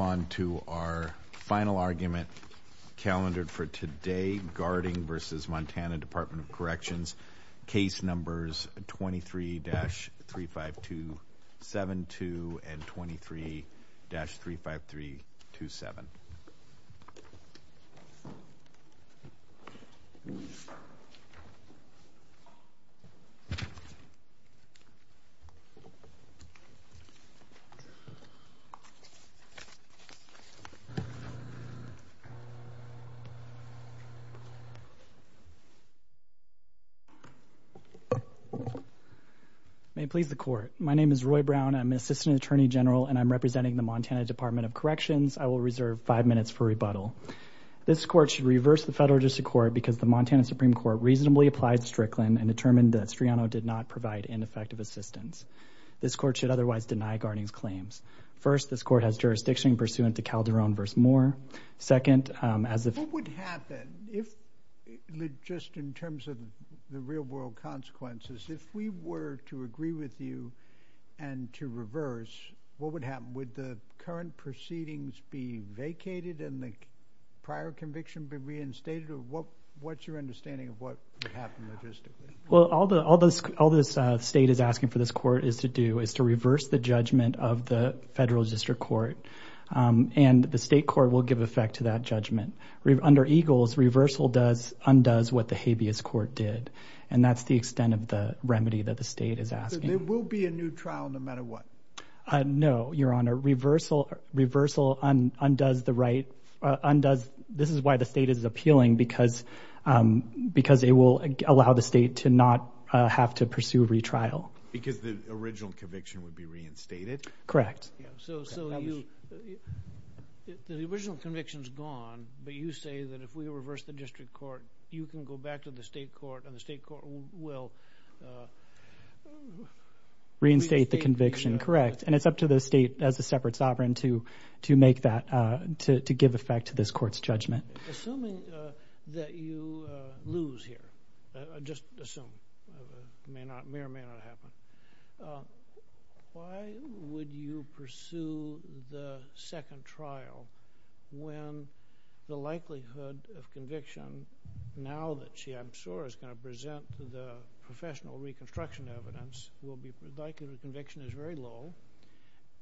On to our final argument, calendared for today, Garding v. Montana Department of Corrections, Case Numbers 23-35272 and 23-35327. May it please the court. My name is Roy Brown. I'm an assistant attorney general and I'm representing the Montana Department of Corrections. I will reserve five minutes for rebuttal. This court should reverse the federal district court because the Montana Supreme Court reasonably applied Strickland and determined that Striano did not provide ineffective assistance. This court should otherwise deny Garding's claims. First, this court has jurisdiction pursuant to Calderon v. Moore. Second, as if... In terms of the real-world consequences, if we were to agree with you and to reverse, what would happen? Would the current proceedings be vacated and the prior conviction be reinstated or what's your understanding of what would happen logistically? Well, all this state is asking for this court to do is to reverse the judgment of the federal district court and the state court will give effect to that judgment. Under EGLES, reversal undoes what the habeas court did and that's the extent of the remedy that the state is asking. There will be a new trial no matter what? No, your honor. Reversal undoes the right... This is why the state is appealing because it will allow the state to not have to pursue retrial. Because the original conviction would be reinstated? Correct. So the original conviction is gone, but you say that if we reverse the district court, you can go back to the state court and the state court will... Reinstate the conviction, correct. And it's up to the state as a separate sovereign to make that, to give effect to this court's judgment. Assuming that you lose here, just assume, may or may not happen. Why would you pursue the second trial when the likelihood of conviction now that she I'm sure is going to present to the professional reconstruction evidence, the likelihood of conviction is very low,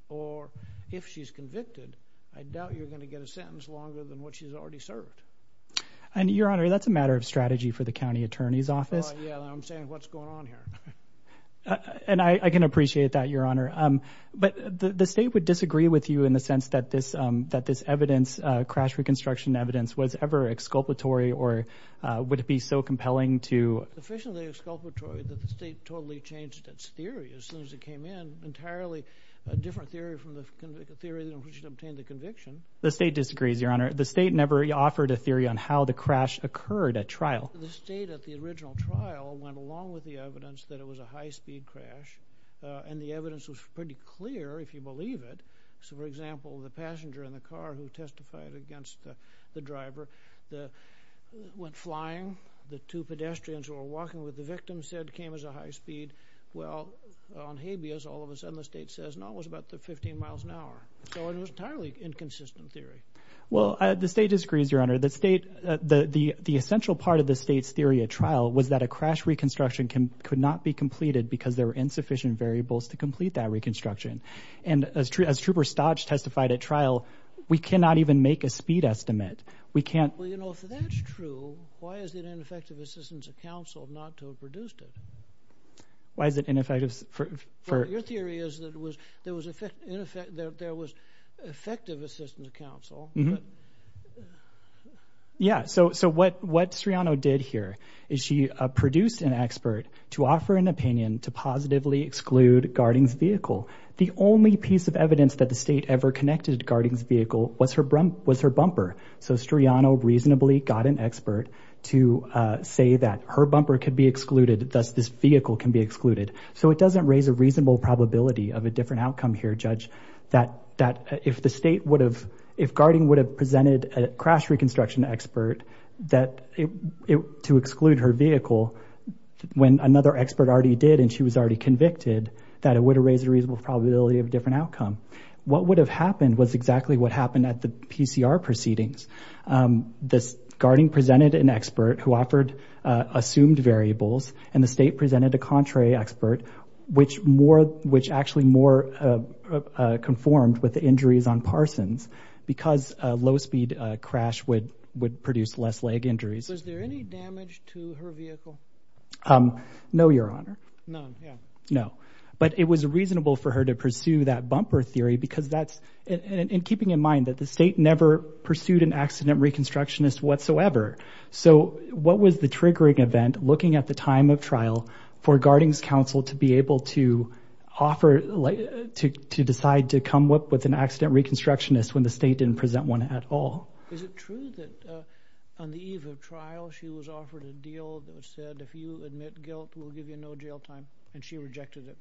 or if she's convicted, I doubt you're going to get a sentence longer than what she's already served. And your honor, that's a matter of strategy for the county attorney's office. Yeah, I'm saying what's going on here. And I can appreciate that, your honor. But the state would disagree with you in the sense that this evidence, crash reconstruction evidence, was ever exculpatory or would it be so compelling to... It isn't exculpatory that the state totally changed its theory as soon as it came in. Entirely different theory from the theory in which it obtained the conviction. The state disagrees, your honor. The state never offered a theory on how the crash occurred at trial. The state at the original trial went along with the evidence that it was a high-speed crash. And the evidence was pretty clear, if you believe it. So, for example, the passenger in the car who testified against the driver went flying. The two pedestrians who were walking with the victim said it came as a high speed. Well, on habeas, all of a sudden the state says, no, it was about 15 miles an hour. So it was an entirely inconsistent theory. Well, the state disagrees, your honor. The state... The essential part of the state's theory at trial was that a crash reconstruction could not be completed because there were insufficient variables to complete that reconstruction. And as Trooper Stodge testified at trial, we cannot even make a speed estimate. We can't... Well, you know, if that's true, why is it ineffective assistance of counsel not to have produced it? Why is it ineffective... Well, your theory is that there was effective assistance of counsel, but... Yeah, so what Sreano did here is she produced an expert to offer an opinion to positively exclude Garding's vehicle. The only piece of evidence that the state ever connected to Garding's vehicle was her bumper. So Sreano reasonably got an expert to say that her bumper could be excluded. Thus, this vehicle can be excluded. So it doesn't raise a reasonable probability of a different outcome here, Judge, that if the state would have... If Garding would have presented a crash reconstruction expert to exclude her vehicle when another expert already did and she was already convicted, that it would have raised a reasonable probability of a different outcome. What would have happened was exactly what happened at the PCR proceedings. Garding presented an expert who offered assumed variables, and the state presented a contrary expert, which actually more conformed with the injuries on Parsons because a low-speed crash would produce less leg injuries. Was there any damage to her vehicle? No, Your Honor. None, yeah. No. But it was reasonable for her to pursue that bumper theory because that's... And keeping in mind that the state never pursued an accident reconstructionist whatsoever, so what was the triggering event looking at the time of trial for Garding's counsel to be able to decide to come up with an accident reconstructionist when the state didn't present one at all? Is it true that on the eve of trial, she was offered a deal that said if you admit guilt, we'll give you no jail time, and she rejected it?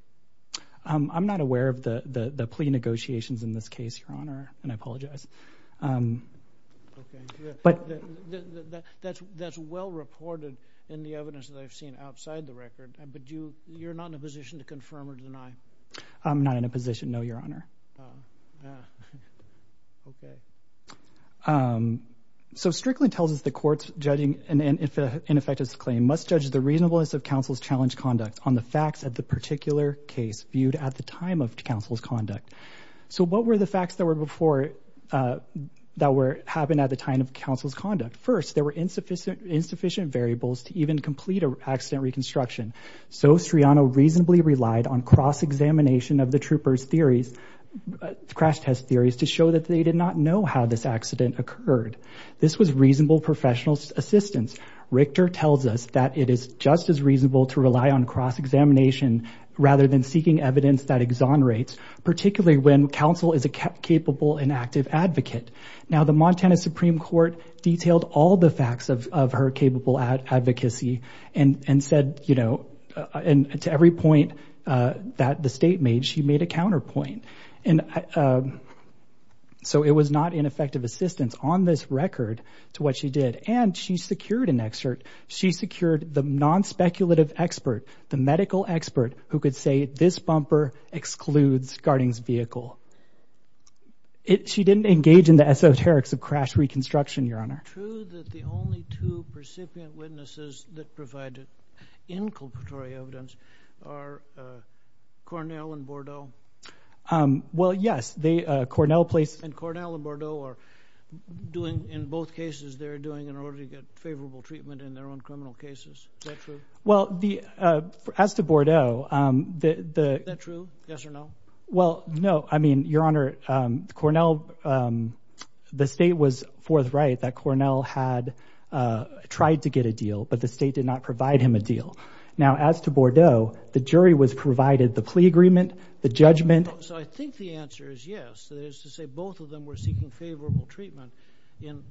I'm not aware of the plea negotiations in this case, Your Honor, and I apologize. Okay. But that's well reported in the evidence that I've seen outside the record, but you're not in a position to confirm or deny? I'm not in a position, no, Your Honor. Oh. Okay. So Strickland tells us the courts judging an ineffectuous claim must judge the reasonableness of counsel's challenged conduct on the facts of the particular case viewed at the time of counsel's conduct. So what were the facts that happened at the time of counsel's conduct? First, there were insufficient variables to even complete an accident reconstruction, so Striano reasonably relied on cross-examination of the trooper's theories, crash test theories, to show that they did not know how this accident occurred. This was reasonable professional assistance. Richter tells us that it is just as reasonable to rely on cross-examination rather than seeking evidence that exonerates, particularly when counsel is a capable and active advocate. Now, the Montana Supreme Court detailed all the facts of her capable advocacy and said, you know, to every point that the state made, she made a counterpoint. And so it was not ineffective assistance on this record to what she did. And she secured an excerpt. She secured the non-speculative expert, the medical expert, who could say this bumper excludes Garding's vehicle. She didn't engage in the esoterics of crash reconstruction, Your Honor. Is it true that the only two recipient witnesses that provided inculpatory evidence are Cornell and Bordeaux? Well, yes. And Cornell and Bordeaux are doing, in both cases, they're doing in order to get favorable treatment in their own criminal cases. Is that true? Well, as to Bordeaux, the— Is that true, yes or no? Well, no. I mean, Your Honor, Cornell, the state was forthright that Cornell had tried to get a deal, but the state did not provide him a deal. Now, as to Bordeaux, the jury was provided the plea agreement, the judgment. So I think the answer is yes. That is to say both of them were seeking favorable treatment in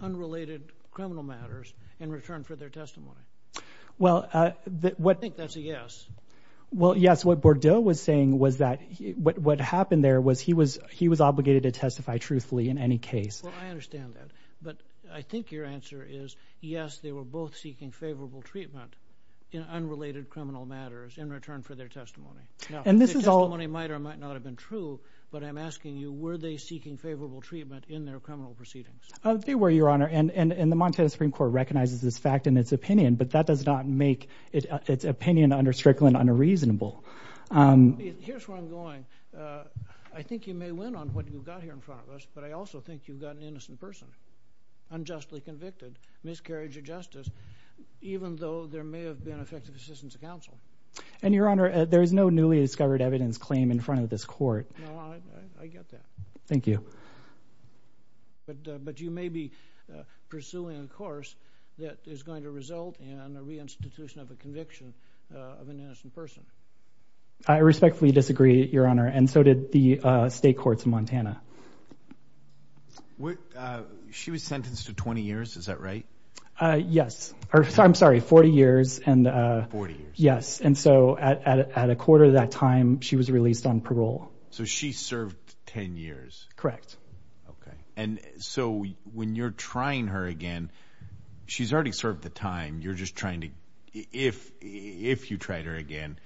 unrelated criminal matters in return for their testimony. Well, what— I think that's a yes. Well, yes. What Bordeaux was saying was that what happened there was he was obligated to testify truthfully in any case. Well, I understand that. But I think your answer is yes, they were both seeking favorable treatment in unrelated criminal matters in return for their testimony. Now, the testimony might or might not have been true, but I'm asking you, were they seeking favorable treatment in their criminal proceedings? They were, Your Honor. And the Montana Supreme Court recognizes this fact in its opinion, but that does not make its opinion under Strickland unreasonable. Here's where I'm going. I think you may win on what you've got here in front of us, but I also think you've got an innocent person unjustly convicted, miscarriage of justice, even though there may have been effective assistance of counsel. And, Your Honor, there is no newly discovered evidence claim in front of this court. No, I get that. Thank you. But you may be pursuing a course that is going to result in a reinstitution of a conviction of an innocent person. I respectfully disagree, Your Honor, and so did the state courts in Montana. She was sentenced to 20 years, is that right? Yes. I'm sorry, 40 years. Forty years. Yes, and so at a quarter of that time, she was released on parole. So she served 10 years. Correct. Okay. And so when you're trying her again, she's already served the time. You're just trying to, if you tried her again,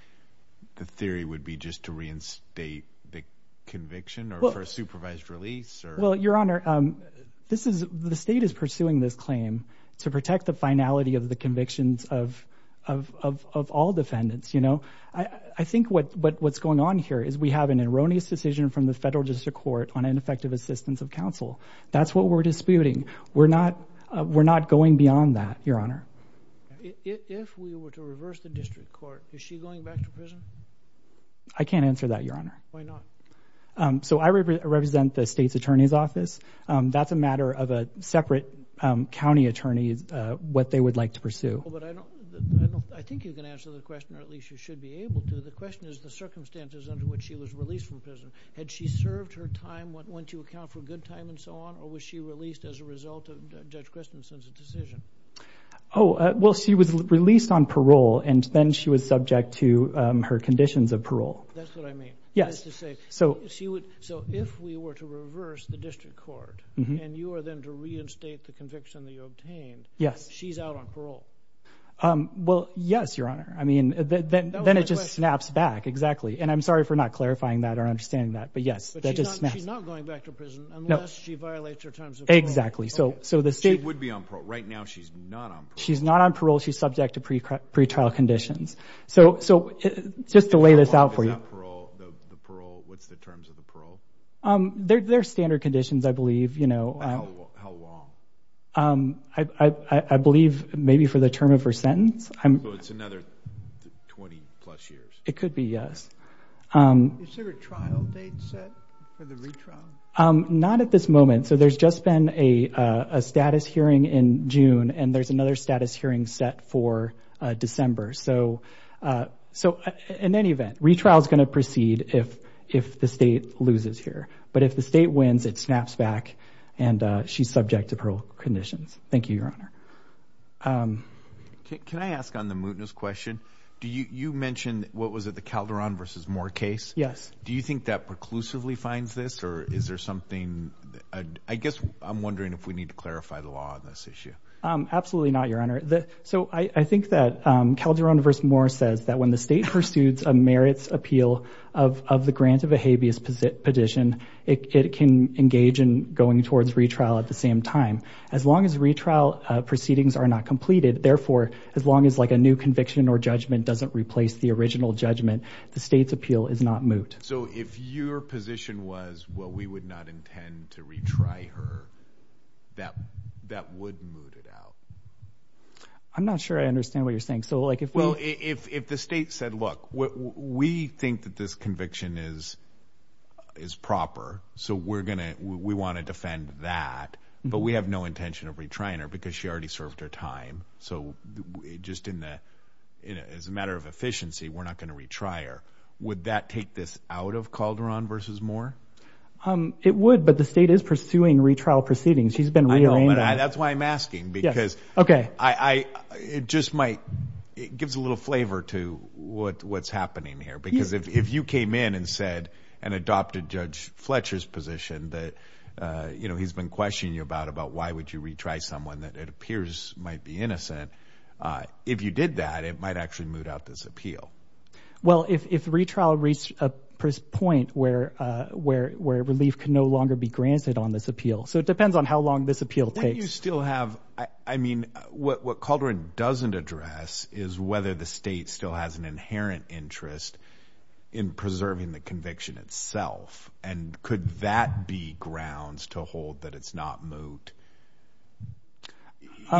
the theory would be just to reinstate the conviction or for a supervised release? Well, Your Honor, the state is pursuing this claim to protect the finality of the convictions of all defendants. I think what's going on here is we have an erroneous decision from the federal district court on ineffective assistance of counsel. That's what we're disputing. We're not going beyond that, Your Honor. If we were to reverse the district court, is she going back to prison? I can't answer that, Your Honor. Why not? So I represent the state's attorney's office. That's a matter of a separate county attorney, what they would like to pursue. I think you can answer the question, or at least you should be able to. The question is the circumstances under which she was released from prison. Had she served her time, went to account for good time and so on, or was she released as a result of Judge Christensen's decision? Well, she was released on parole, and then she was subject to her conditions of parole. That's what I mean. Yes. So if we were to reverse the district court and you were then to reinstate the conviction that you obtained, she's out on parole? Well, yes, Your Honor. Then it just snaps back, exactly. And I'm sorry for not clarifying that or understanding that, but yes. But she's not going back to prison unless she violates her terms of parole. Exactly. She would be on parole. Right now she's not on parole. She's not on parole. She's subject to pretrial conditions. So just to lay this out for you. What's the terms of the parole? They're standard conditions, I believe. How long? I believe maybe for the term of her sentence. So it's another 20-plus years. It could be, yes. Is there a trial date set for the retrial? Not at this moment. So there's just been a status hearing in June, and there's another status hearing set for December. So in any event, retrial is going to proceed if the state loses here. But if the state wins, it snaps back, and she's subject to parole conditions. Thank you, Your Honor. Can I ask on the mootness question, you mentioned what was it, the Calderon v. Moore case? Yes. Do you think that preclusively finds this, or is there something? I guess I'm wondering if we need to clarify the law on this issue. Absolutely not, Your Honor. I think that Calderon v. Moore says that when the state pursues a merits appeal of the grant of a habeas petition, it can engage in going towards retrial at the same time. As long as retrial proceedings are not completed, therefore as long as a new conviction or judgment doesn't replace the original judgment, the state's appeal is not moot. So if your position was, well, we would not intend to retry her, that would moot it out? I'm not sure I understand what you're saying. Well, if the state said, look, we think that this conviction is proper, so we want to defend that, but we have no intention of retrying her because she already served her time. So just as a matter of efficiency, we're not going to retry her. Would that take this out of Calderon v. Moore? It would, but the state is pursuing retrial proceedings. She's been rearranged. I know, but that's why I'm asking because it just might give a little flavor to what's happening here because if you came in and said and adopted Judge Fletcher's position that he's been questioning you about, about why would you retry someone that it appears might be innocent, if you did that, it might actually moot out this appeal. Well, if retrial reached a point where relief can no longer be granted on this appeal. So it depends on how long this appeal takes. What you still have, I mean, what Calderon doesn't address is whether the state still has an inherent interest in preserving the conviction itself, and could that be grounds to hold that it's not moot?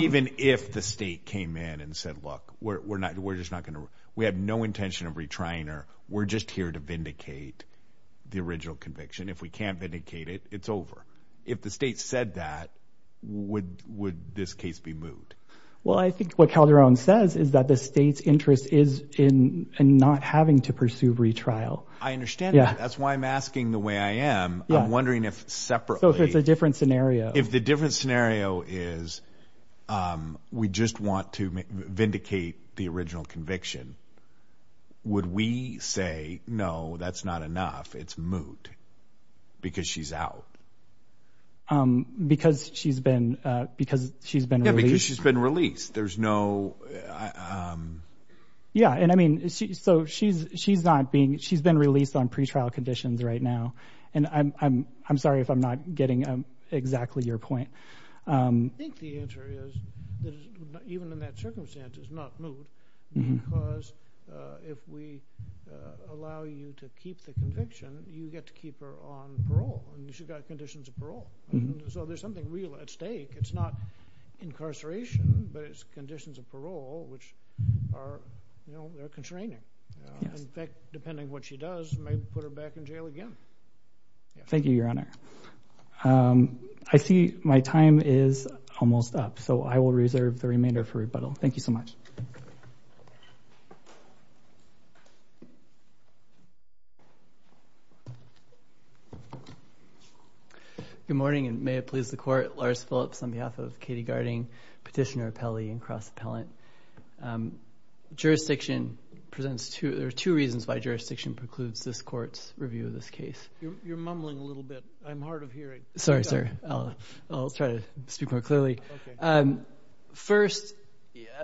Even if the state came in and said, look, we're just not going to, we have no intention of retrying her. We're just here to vindicate the original conviction. If we can't vindicate it, it's over. If the state said that, would this case be moot? Well, I think what Calderon says is that the state's interest is in not having to pursue retrial. I understand that. That's why I'm asking the way I am. I'm wondering if separately. So if it's a different scenario. If the different scenario is we just want to vindicate the original conviction, would we say, no, that's not enough, it's moot, because she's out? Because she's been released. Yeah, because she's been released. There's no... Yeah, and I mean, so she's not being, she's been released on pretrial conditions right now, and I'm sorry if I'm not getting exactly your point. I think the answer is that even in that circumstance, it's not moot, because if we allow you to keep the conviction, you get to keep her on parole, and she's got conditions of parole. So there's something real at stake. It's not incarceration, but it's conditions of parole, which are constraining. And in fact, depending on what she does, you may put her back in jail again. Thank you, Your Honor. I see my time is almost up, so I will reserve the remainder for rebuttal. Thank you so much. Good morning, and may it please the Court. Lars Phillips on behalf of Katie Garding, petitioner, appellee, and cross-appellant. Jurisdiction presents two reasons why jurisdiction precludes this Court's review of this case. You're mumbling a little bit. I'm hard of hearing. Sorry, sir. I'll try to speak more clearly. Okay. First,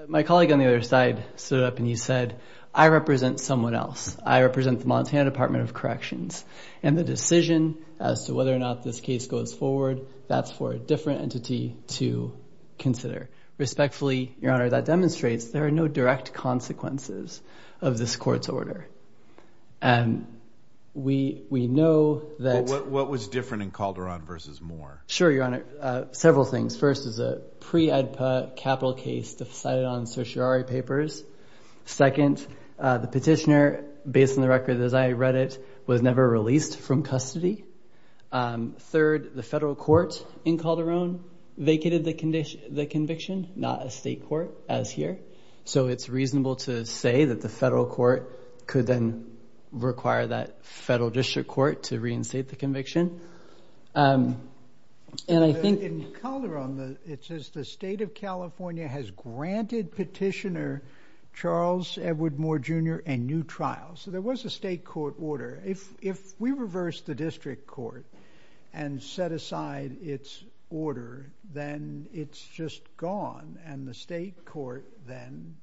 my colleague on the other side stood up and he said, I represent someone else. I represent the Montana Department of Corrections, and the decision as to whether or not this case goes forward, that's for a different entity to consider. Respectfully, Your Honor, that demonstrates there are no direct consequences of this Court's order. And we know that... What was different in Calderon versus Moore? Sure, Your Honor. Several things. First is a pre-AEDPA capital case decided on certiorari papers. Second, the petitioner, based on the record as I read it, was never released from custody. Third, the federal court in Calderon vacated the conviction not a state court, as here. So it's reasonable to say that the federal court could then require that federal district court to reinstate the conviction. And I think... In Calderon, it says the State of California has granted petitioner Charles Edward Moore Jr. a new trial. So there was a state court order. If we reverse the district court and set aside its order, then it's just gone. And the state court then,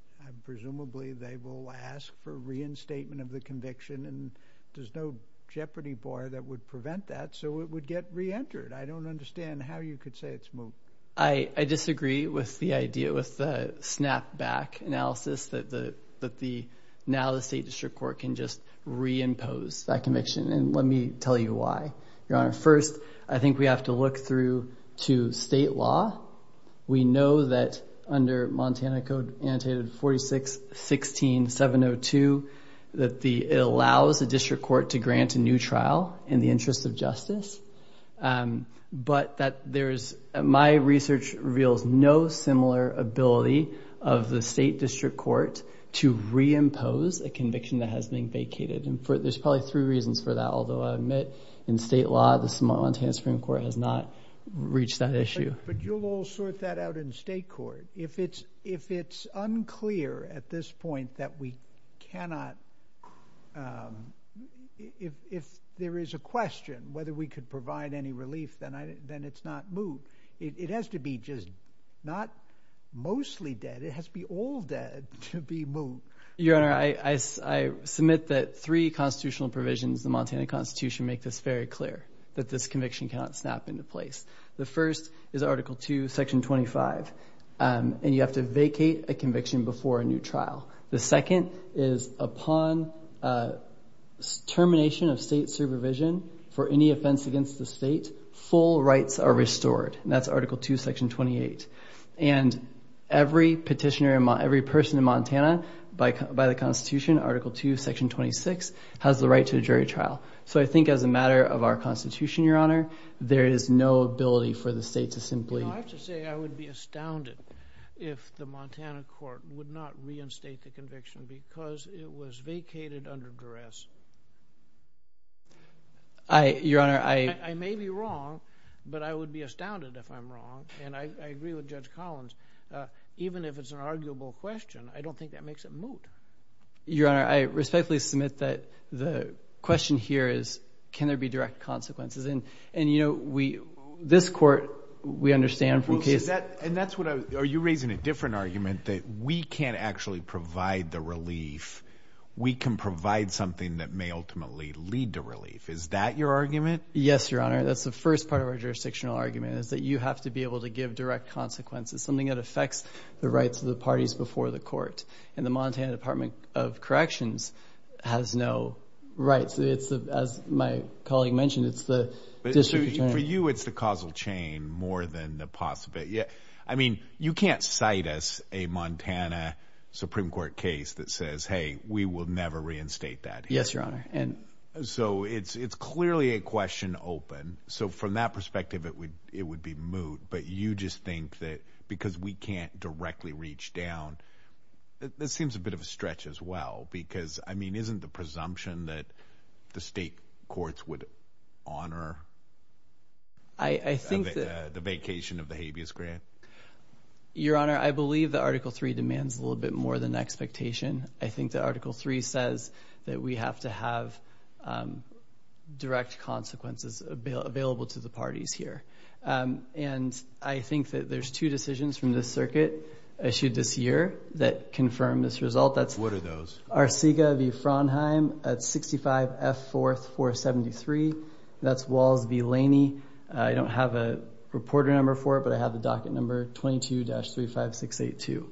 presumably, they will ask for reinstatement of the conviction. And there's no jeopardy bar that would prevent that, so it would get reentered. I don't understand how you could say it's moved. I disagree with the idea, with the snapback analysis, that now the state district court can just reimpose that conviction. And let me tell you why, Your Honor. First, I think we have to look through to state law. We know that under Montana Code, annotated 46-16-702, that it allows a district court to grant a new trial in the interest of justice. But my research reveals no similar ability of the state district court to reimpose a conviction that has been vacated. And there's probably three reasons for that, although I admit in state law the Montana Supreme Court has not reached that issue. But you'll all sort that out in state court. If it's unclear at this point that we cannot, if there is a question whether we could provide any relief, then it's not moved. It has to be just not mostly dead. It has to be all dead to be moved. Your Honor, I submit that three constitutional provisions of the Montana Constitution make this very clear, that this conviction cannot snap into place. The first is Article II, Section 25, and you have to vacate a conviction before a new trial. The second is upon termination of state supervision for any offense against the state, full rights are restored, and that's Article II, Section 28. And every petitioner, every person in Montana, by the Constitution, Article II, Section 26, has the right to a jury trial. So I think as a matter of our Constitution, Your Honor, there is no ability for the state to simply... I have to say I would be astounded if the Montana court would not reinstate the conviction because it was vacated under duress. Your Honor, I... I may be wrong, but I would be astounded if I'm wrong, and I agree with Judge Collins. Even if it's an arguable question, I don't think that makes it moot. Your Honor, I respectfully submit that the question here is, can there be direct consequences? And, you know, this court, we understand from cases... And that's what I was... Are you raising a different argument that we can't actually provide the relief? We can provide something that may ultimately lead to relief. Is that your argument? Yes, Your Honor. That's the first part of our jurisdictional argument is that you have to be able to give direct consequences, something that affects the rights of the parties before the court. And the Montana Department of Corrections has no rights. As my colleague mentioned, it's the district attorney. For you, it's the causal chain more than the possible... I mean, you can't cite us a Montana Supreme Court case that says, hey, we will never reinstate that here. Yes, Your Honor. So it's clearly a question open. So from that perspective, it would be moot. But you just think that because we can't directly reach down that this seems a bit of a stretch as well. Because, I mean, isn't the presumption that the state courts would honor the vacation of the habeas grant? Your Honor, I believe that Article 3 demands a little bit more than expectation. I think that Article 3 says that we have to have direct consequences available to the parties here. And I think that there's two decisions from this circuit issued this year that confirm this result. What are those? Arcega v. Frondheim at 65 F. 4th 473. That's Walls v. Laney. I don't have a reporter number for it, but I have the docket number 22-35682.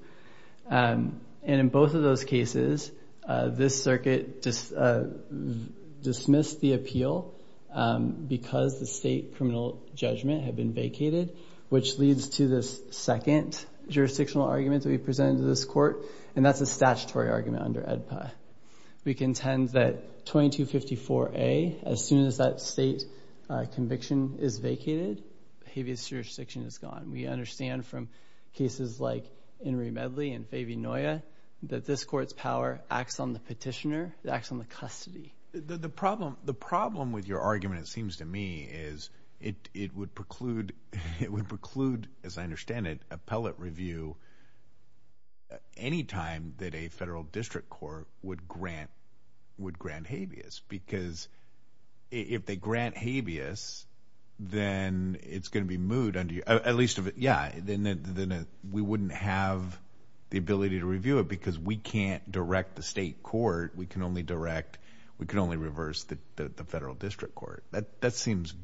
And in both of those cases, this circuit dismissed the appeal because the state criminal judgment had been vacated, which leads to this second jurisdictional argument that we presented to this court, and that's a statutory argument under EDPA. We contend that 22-54A, as soon as that state conviction is vacated, habeas jurisdiction is gone. We understand from cases like Inouye Medley and Fabian Noya that this court's power acts on the petitioner. It acts on the custody. The problem with your argument, it seems to me, is it would preclude, as I understand it, appellate review any time that a federal district court would grant habeas because if they grant habeas, then it's going to be moot. At least, yeah, then we wouldn't have the ability to review it because we can't direct the state court. We can only direct, we can only reverse the federal district court. That seems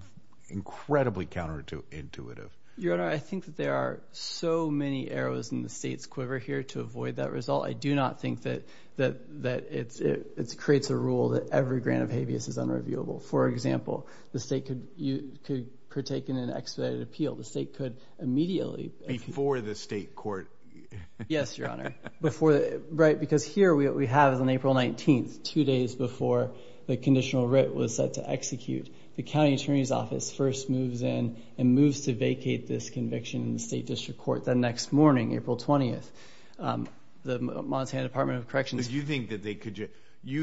incredibly counterintuitive. Your Honor, I think that there are so many arrows in the state's quiver here to avoid that result. I do not think that it creates a rule that every grant of habeas is unreviewable. For example, the state could partake in an expedited appeal. The state could immediately. Before the state court. Yes, Your Honor. Because here what we have is on April 19th, two days before the conditional writ was set to execute, the county attorney's office first moves in and moves to vacate this conviction in the state district court. Then next morning, April 20th, the Montana Department of Corrections. You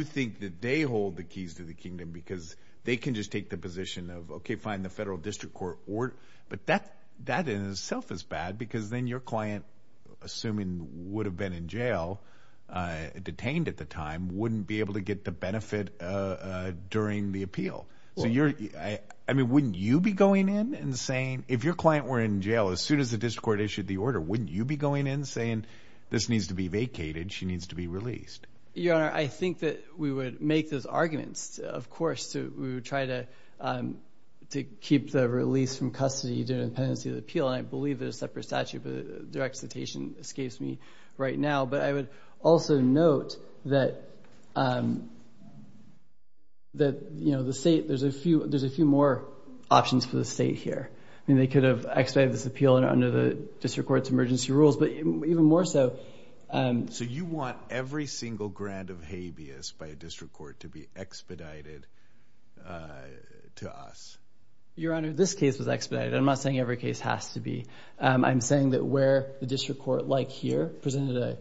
think that they hold the keys to the kingdom because they can just take the position of, okay, fine, the federal district court. But that in itself is bad because then your client, assuming would have been in jail, detained at the time, wouldn't be able to get the benefit during the appeal. Wouldn't you be going in and saying, if your client were in jail, as soon as the district court issued the order, wouldn't you be going in saying, this needs to be vacated, she needs to be released? Your Honor, I think that we would make those arguments. Of course, we would try to keep the release from custody during the pendency of the appeal. I believe there's a separate statute, but their excitation escapes me right now. But I would also note that the state, there's a few more options for the state here. I mean, they could have expedited this appeal under the district court's emergency rules, but even more so. So you want every single grant of habeas by a district court to be expedited to us? Your Honor, this case was expedited. I'm not saying every case has to be. I'm saying that where the district court, like here, presented an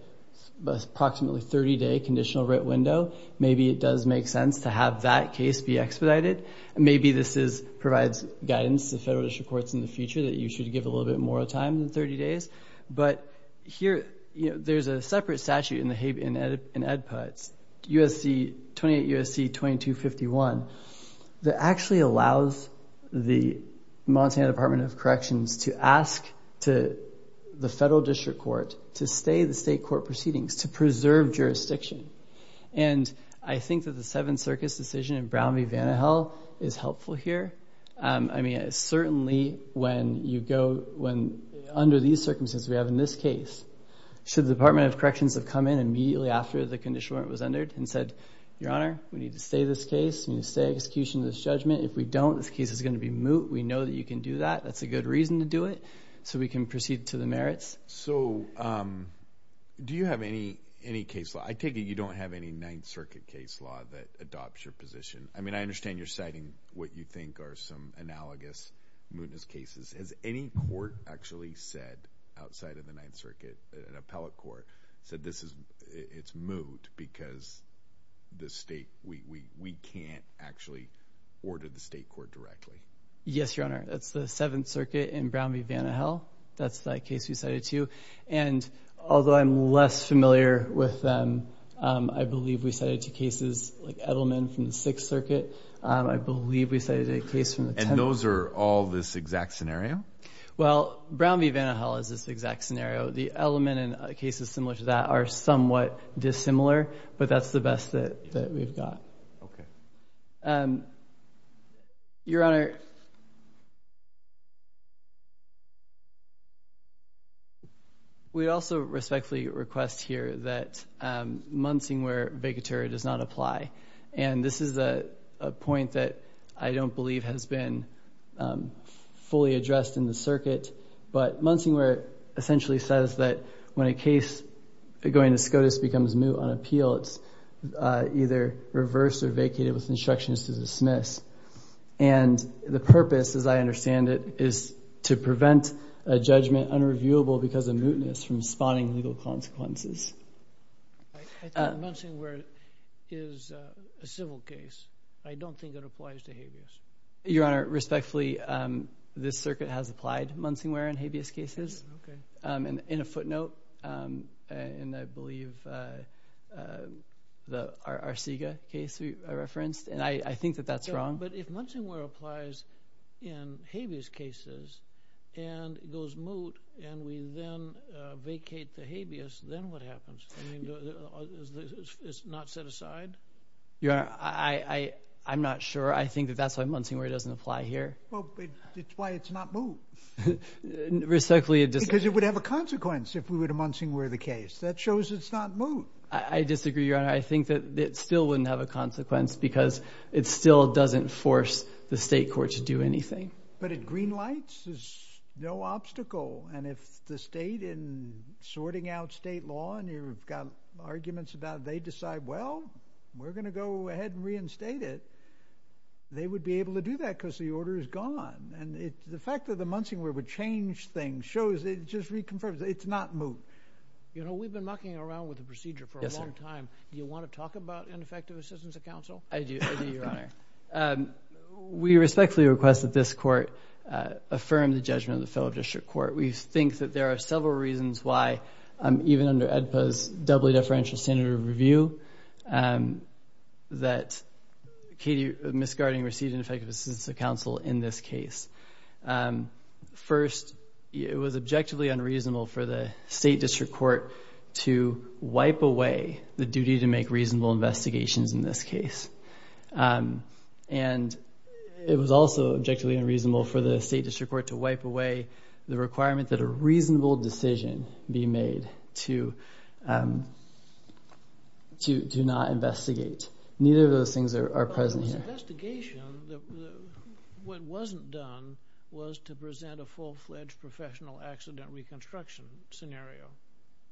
approximately 30-day conditional writ window, maybe it does make sense to have that case be expedited. Maybe this provides guidance to federal district courts in the future that you should give a little bit more time than 30 days. But here, there's a separate statute in the Habeas and Ed Puts, 28 U.S.C. 2251, that actually allows the Montana Department of Corrections to ask the federal district court to stay the state court proceedings, to preserve jurisdiction. And I think that the Seven Circus decision in Brown v. Vannahill is helpful here. I mean, certainly when you go, under these circumstances we have in this case, should the Department of Corrections have come in immediately after the conditional warrant was entered and said, Your Honor, we need to stay this case. We need to stay execution of this judgment. If we don't, this case is going to be moot. We know that you can do that. That's a good reason to do it so we can proceed to the merits. So do you have any case law? I take it you don't have any Ninth Circuit case law that adopts your position. I mean, I understand you're citing what you think are some analogous mootness cases. Has any court actually said outside of the Ninth Circuit, an appellate court, said it's moot because we can't actually order the state court directly? Yes, Your Honor. That's the Seventh Circuit in Brown v. Vannahill. That's that case we cited too. And although I'm less familiar with them, I believe we cited two cases like Edelman from the Sixth Circuit. I believe we cited a case from the Tenth. And those are all this exact scenario? Well, Brown v. Vannahill is this exact scenario. The Edelman and cases similar to that are somewhat dissimilar, but that's the best that we've got. Okay. Your Honor, we also respectfully request here that Munsingware vicature does not apply. And this is a point that I don't believe has been fully addressed in the case going to SCOTUS becomes moot on appeal, it's either reversed or vacated with instructions to dismiss. And the purpose, as I understand it, is to prevent a judgment unreviewable because of mootness from spawning legal consequences. I think Munsingware is a civil case. I don't think it applies to habeas. Your Honor, respectfully, this circuit has applied Munsingware in habeas cases. Okay. And in a footnote, and I believe our SIGA case we referenced, and I think that that's wrong. But if Munsingware applies in habeas cases and goes moot, and we then vacate the habeas, then what happens? I mean, it's not set aside? Your Honor, I'm not sure. I think that's why Munsingware doesn't apply here. Well, it's why it's not moot. Because it would have a consequence if Munsingware were the case. That shows it's not moot. I disagree, Your Honor. I think that it still wouldn't have a consequence because it still doesn't force the state court to do anything. But at green lights, there's no obstacle. And if the state, in sorting out state law, and you've got arguments about they decide, well, we're going to go ahead and reinstate it, they would be able to do that because the order is gone. And the fact that the Munsingware would change things shows it just reconfirms it's not moot. You know, we've been mucking around with the procedure for a long time. Do you want to talk about ineffective assistance of counsel? I do, Your Honor. We respectfully request that this court affirm the judgment of the fellow district court. We think that there are several reasons why, even under AEDPA's doubly deferential standard of review, that Katie Misgarding received ineffective assistance of counsel in this case. First, it was objectively unreasonable for the state district court to wipe away the duty to make reasonable investigations in this case. And it was also objectively unreasonable for the state district court to wipe away the requirement that a reasonable decision be made to not investigate. Neither of those things are present here. But there was investigation. What wasn't done was to present a full-fledged professional accident reconstruction scenario.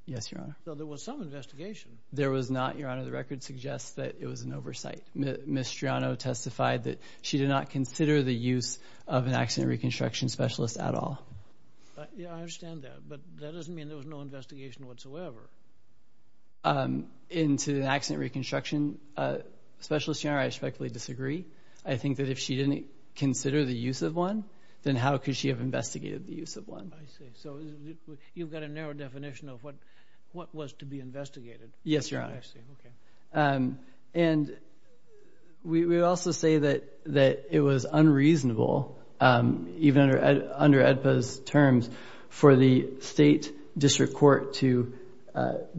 Yes, Your Honor. So there was some investigation. There was not, Your Honor. The record suggests that it was an oversight. Ms. Striano testified that she did not consider the use of an accident reconstruction specialist at all. Yeah, I understand that. But that doesn't mean there was no investigation whatsoever. In an accident reconstruction specialist, Your Honor, I respectfully disagree. I think that if she didn't consider the use of one, then how could she have investigated the use of one? I see. So you've got a narrow definition of what was to be investigated. Yes, Your Honor. I see. Okay. And we also say that it was unreasonable, even under AEDPA's terms, for the state district court to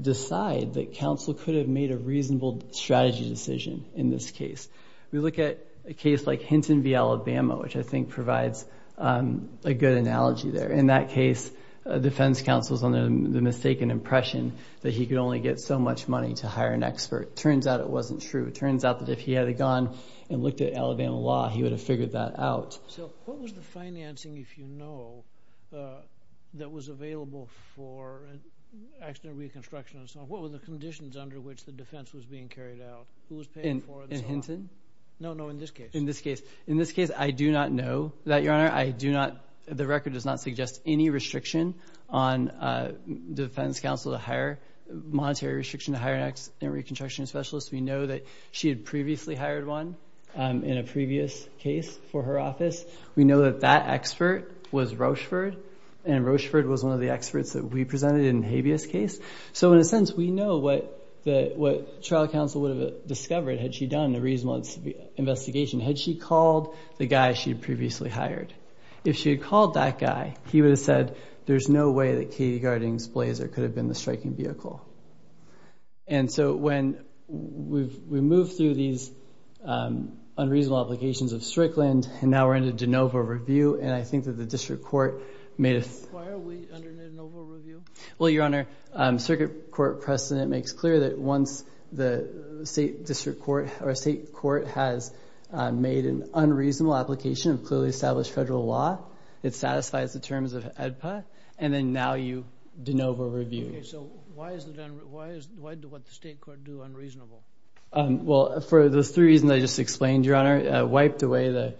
decide that counsel could have made a reasonable strategy decision in this case. We look at a case like Hinton v. Alabama, which I think provides a good analogy there. In that case, defense counsel is under the mistaken impression that he could only get so much money to hire an expert. It turns out it wasn't true. It turns out that if he had gone and looked at Alabama law, he would have figured that out. So what was the financing, if you know, that was available for accident reconstruction? What were the conditions under which the defense was being carried out? Who was paying for it? In Hinton? No, no, in this case. In this case. In this case, I do not know that, Your Honor. The record does not suggest any restriction on defense counsel to hire monetary restriction to hire an accident reconstruction specialist. We know that she had previously hired one in a previous case for her office. We know that that expert was Rocheford, and Rocheford was one of the experts that we presented in Habeas' case. So in a sense, we know what trial counsel would have discovered had she done a reasonable investigation, had she called the guy she had previously hired. If she had called that guy, he would have said, there's no way that Katie Garding's Blazer could have been the striking vehicle. And so when we move through these unreasonable applications of Strickland, and now we're into de novo review, and I think that the district court made a... Why are we under de novo review? Well, Your Honor, circuit court precedent makes clear that once the state district court or state court has made an unreasonable application of clearly established federal law, it satisfies the terms of AEDPA, and then now you de novo review. Okay, so why is what the state court do unreasonable? Well, for those three reasons I just explained, Your Honor. Wiped away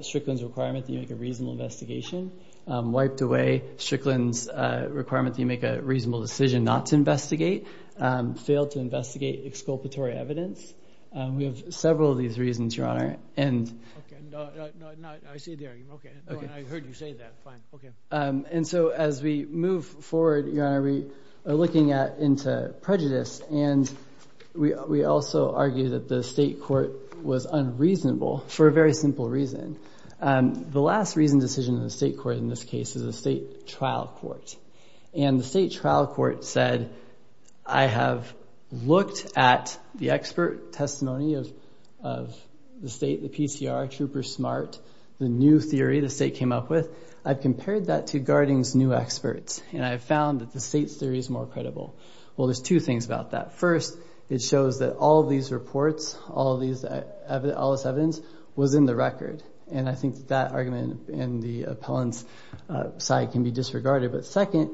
Strickland's requirement that you make a reasonable investigation. Wiped away Strickland's requirement that you make a reasonable decision not to investigate. Failed to investigate exculpatory evidence. We have several of these reasons, Your Honor. Okay, no, I see the argument. I heard you say that. Fine. Okay. And so as we move forward, Your Honor, we are looking into prejudice, and we also argue that the state court was unreasonable for a very simple reason. The last reasoned decision in the state court in this case is the state trial court. And the state trial court said, I have looked at the expert testimony of the state, the PCR, Trooper Smart, the new theory the state came up with. I've compared that to Garding's new experts, and I've found that the state's theory is more credible. Well, there's two things about that. First, it shows that all of these reports, all this evidence, was in the record. And I think that argument in the appellant's side can be disregarded. But second,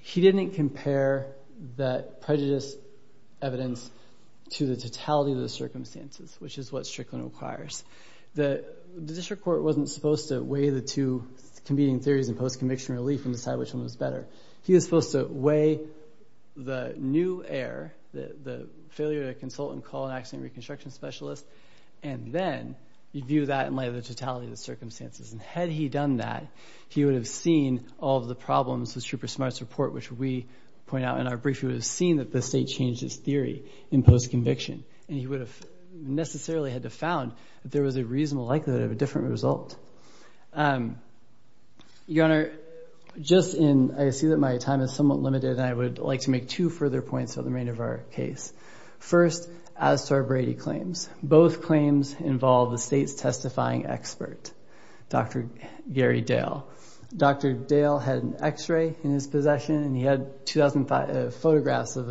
he didn't compare that prejudice evidence to the totality of the circumstances, which is what Strickland requires. The district court wasn't supposed to weigh the two competing theories in post-conviction relief and decide which one was better. He was supposed to weigh the new error, the failure to consult and call an accident and reconstruction specialist, and then review that in light of the totality of the circumstances. And had he done that, he would have seen all of the problems with Trooper Smart's report, which we point out in our brief. He would have seen that the state changed its theory in post-conviction, and he would have necessarily had to have found that there was a reasonable likelihood of a different result. Your Honor, just in... I see that my time is somewhat limited, and I would like to make two further points about the remainder of our case. First, as to our Brady claims, both claims involve the state's testifying expert, Dr. Gary Dale. Dr. Dale had an X-ray in his possession, and he had 2,000 photographs of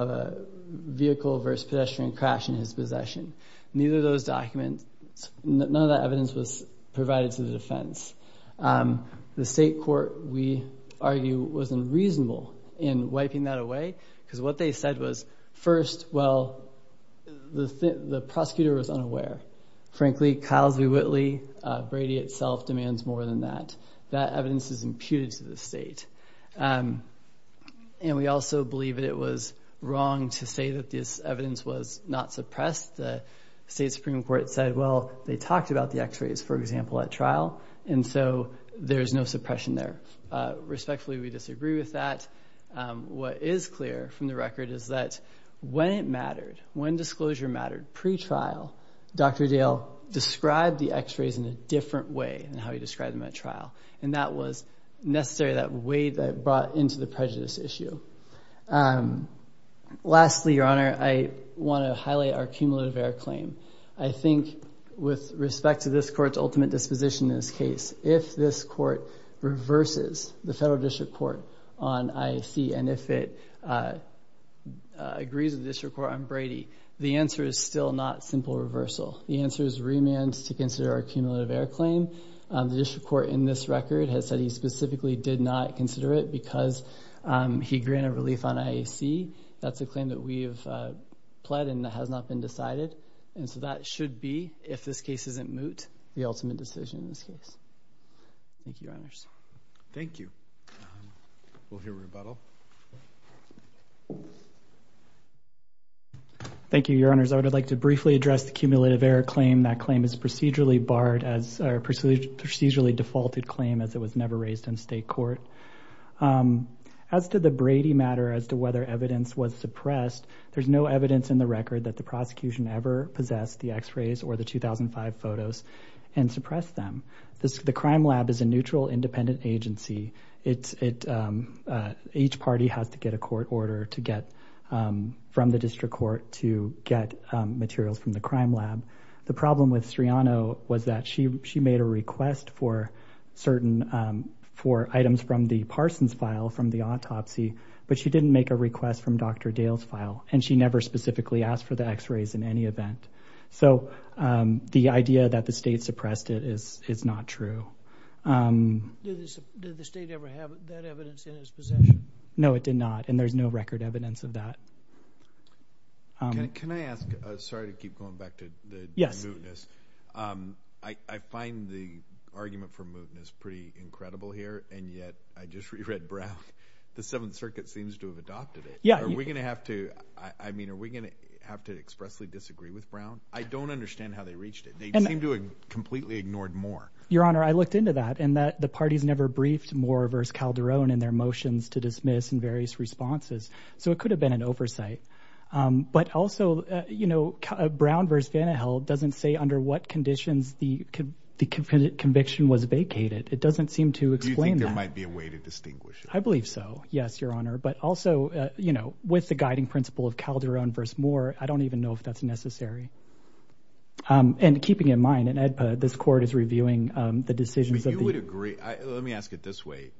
a vehicle versus pedestrian crash in his possession. Neither of those documents... None of that evidence was provided to the defense. The state court, we argue, was unreasonable in wiping that away, because what they said was, first, well, the prosecutor was unaware. Frankly, Kyles v. Whitley, Brady itself demands more than that. That evidence is imputed to the state. And we also believe that it was wrong to say that this evidence was not suppressed. The state Supreme Court said, well, they talked about the X-rays, for example, at trial, and so there's no suppression there. Respectfully, we disagree with that. What is clear from the record is that when it mattered, when disclosure mattered pre-trial, Dr. Dale described the X-rays in a different way than how he described them at trial, and that was necessary, that way that it brought into the prejudice issue. Lastly, Your Honor, I want to highlight our cumulative error claim. I think with respect to this court's ultimate disposition in this case, if this court reverses the federal district court on IFC and if it agrees with the district court on Brady, the answer is still not simple reversal. The answer is remand to consider our cumulative error claim. The district court in this record has said he specifically did not consider it because he granted relief on IFC. That's a claim that we have pled and that has not been decided. And so that should be, if this case isn't moot, the ultimate decision in this case. Thank you, Your Honors. Thank you. We'll hear rebuttal. Thank you, Your Honors. I would like to briefly address the cumulative error claim. That claim is procedurally barred as a procedurally defaulted claim as it was never raised in state court. As to the Brady matter as to whether evidence was suppressed, there's no evidence in the record that the prosecution ever possessed the X-rays or the 2005 photos and suppressed them. The crime lab is a neutral, independent agency. Each party has to get a court order from the district court to get materials from the crime lab. The problem with Striano was that she made a request for items from the Parsons file, from the autopsy, but she didn't make a request from Dr. Dale's file, and she never specifically asked for the X-rays in any event. So the idea that the state suppressed it is not true. Did the state ever have that evidence in its possession? No, it did not, and there's no record evidence of that. Can I ask? Sorry to keep going back to the mootness. I find the argument for mootness pretty incredible here, and yet I just reread Brown. The Seventh Circuit seems to have adopted it. Are we going to have to expressly disagree with Brown? I don't understand how they reached it. They seem to have completely ignored Moore. Your Honor, I looked into that, and the parties never briefed Moore versus Calderon in their motions to dismiss and various responses. So it could have been an oversight. But also, you know, Brown versus Vanden Heuvel doesn't say under what conditions the conviction was vacated. It doesn't seem to explain that. Do you think there might be a way to distinguish it? I believe so, yes, Your Honor. But also, you know, with the guiding principle of Calderon versus Moore, I don't even know if that's necessary. And keeping in mind, in AEDPA, this court is reviewing the decisions of the— You would agree—let me ask it this way.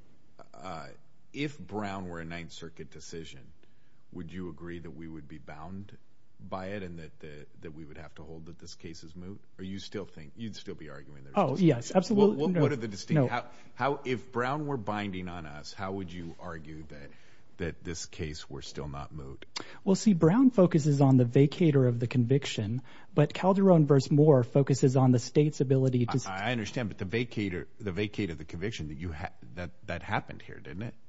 If Brown were a Ninth Circuit decision, would you agree that we would be bound by it and that we would have to hold that this case is moot? Or you'd still be arguing there's a distinction? Oh, yes, absolutely. What are the distinct— If Brown were binding on us, how would you argue that this case were still not moot? Well, see, Brown focuses on the vacator of the conviction, but Calderon versus Moore focuses on the state's ability to—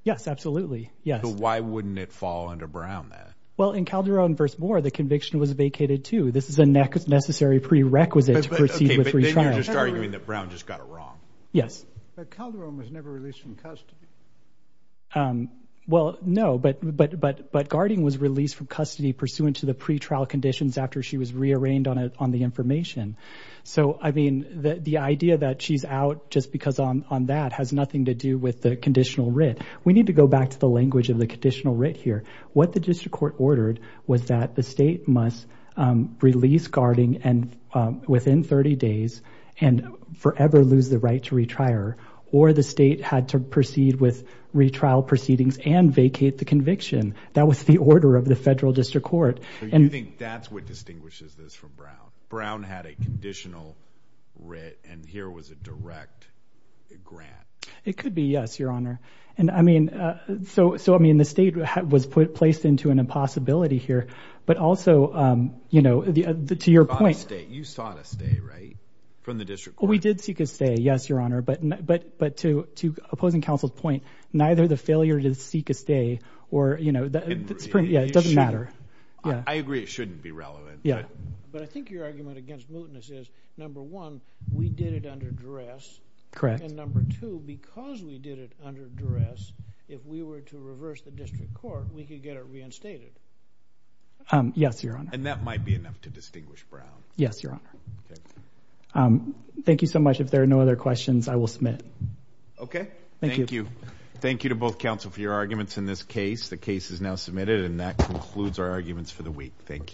Yes, absolutely, yes. So why wouldn't it fall under Brown then? Well, in Calderon versus Moore, the conviction was vacated too. This is a necessary prerequisite to proceed with retrial. Okay, but then you're just arguing that Brown just got it wrong. Yes. But Calderon was never released from custody. Well, no, but Garding was released from custody pursuant to the pretrial conditions after she was rearranged on the information. So, I mean, the idea that she's out just because on that has nothing to do with the conditional writ. We need to go back to the language of the conditional writ here. What the district court ordered was that the state must release Garding within 30 days and forever lose the right to retrial, or the state had to proceed with retrial proceedings and vacate the conviction. That was the order of the federal district court. So you think that's what distinguishes this from Brown? Brown had a conditional writ and here was a direct grant. It could be, yes, Your Honor. So, I mean, the state was placed into an impossibility here, but also, you know, to your point. You sought a stay, right, from the district court? We did seek a stay, yes, Your Honor, but to opposing counsel's point, neither the failure to seek a stay or, you know, it doesn't matter. I agree it shouldn't be relevant. Yeah. But I think your argument against mootness is, number one, we did it under duress. Correct. And number two, because we did it under duress, if we were to reverse the district court, we could get it reinstated. Yes, Your Honor. And that might be enough to distinguish Brown. Yes, Your Honor. Okay. Thank you so much. If there are no other questions, I will submit. Okay. Thank you. Thank you. Thank you to both counsel for your arguments in this case. The case is now submitted and that concludes our arguments for the week. Thank you.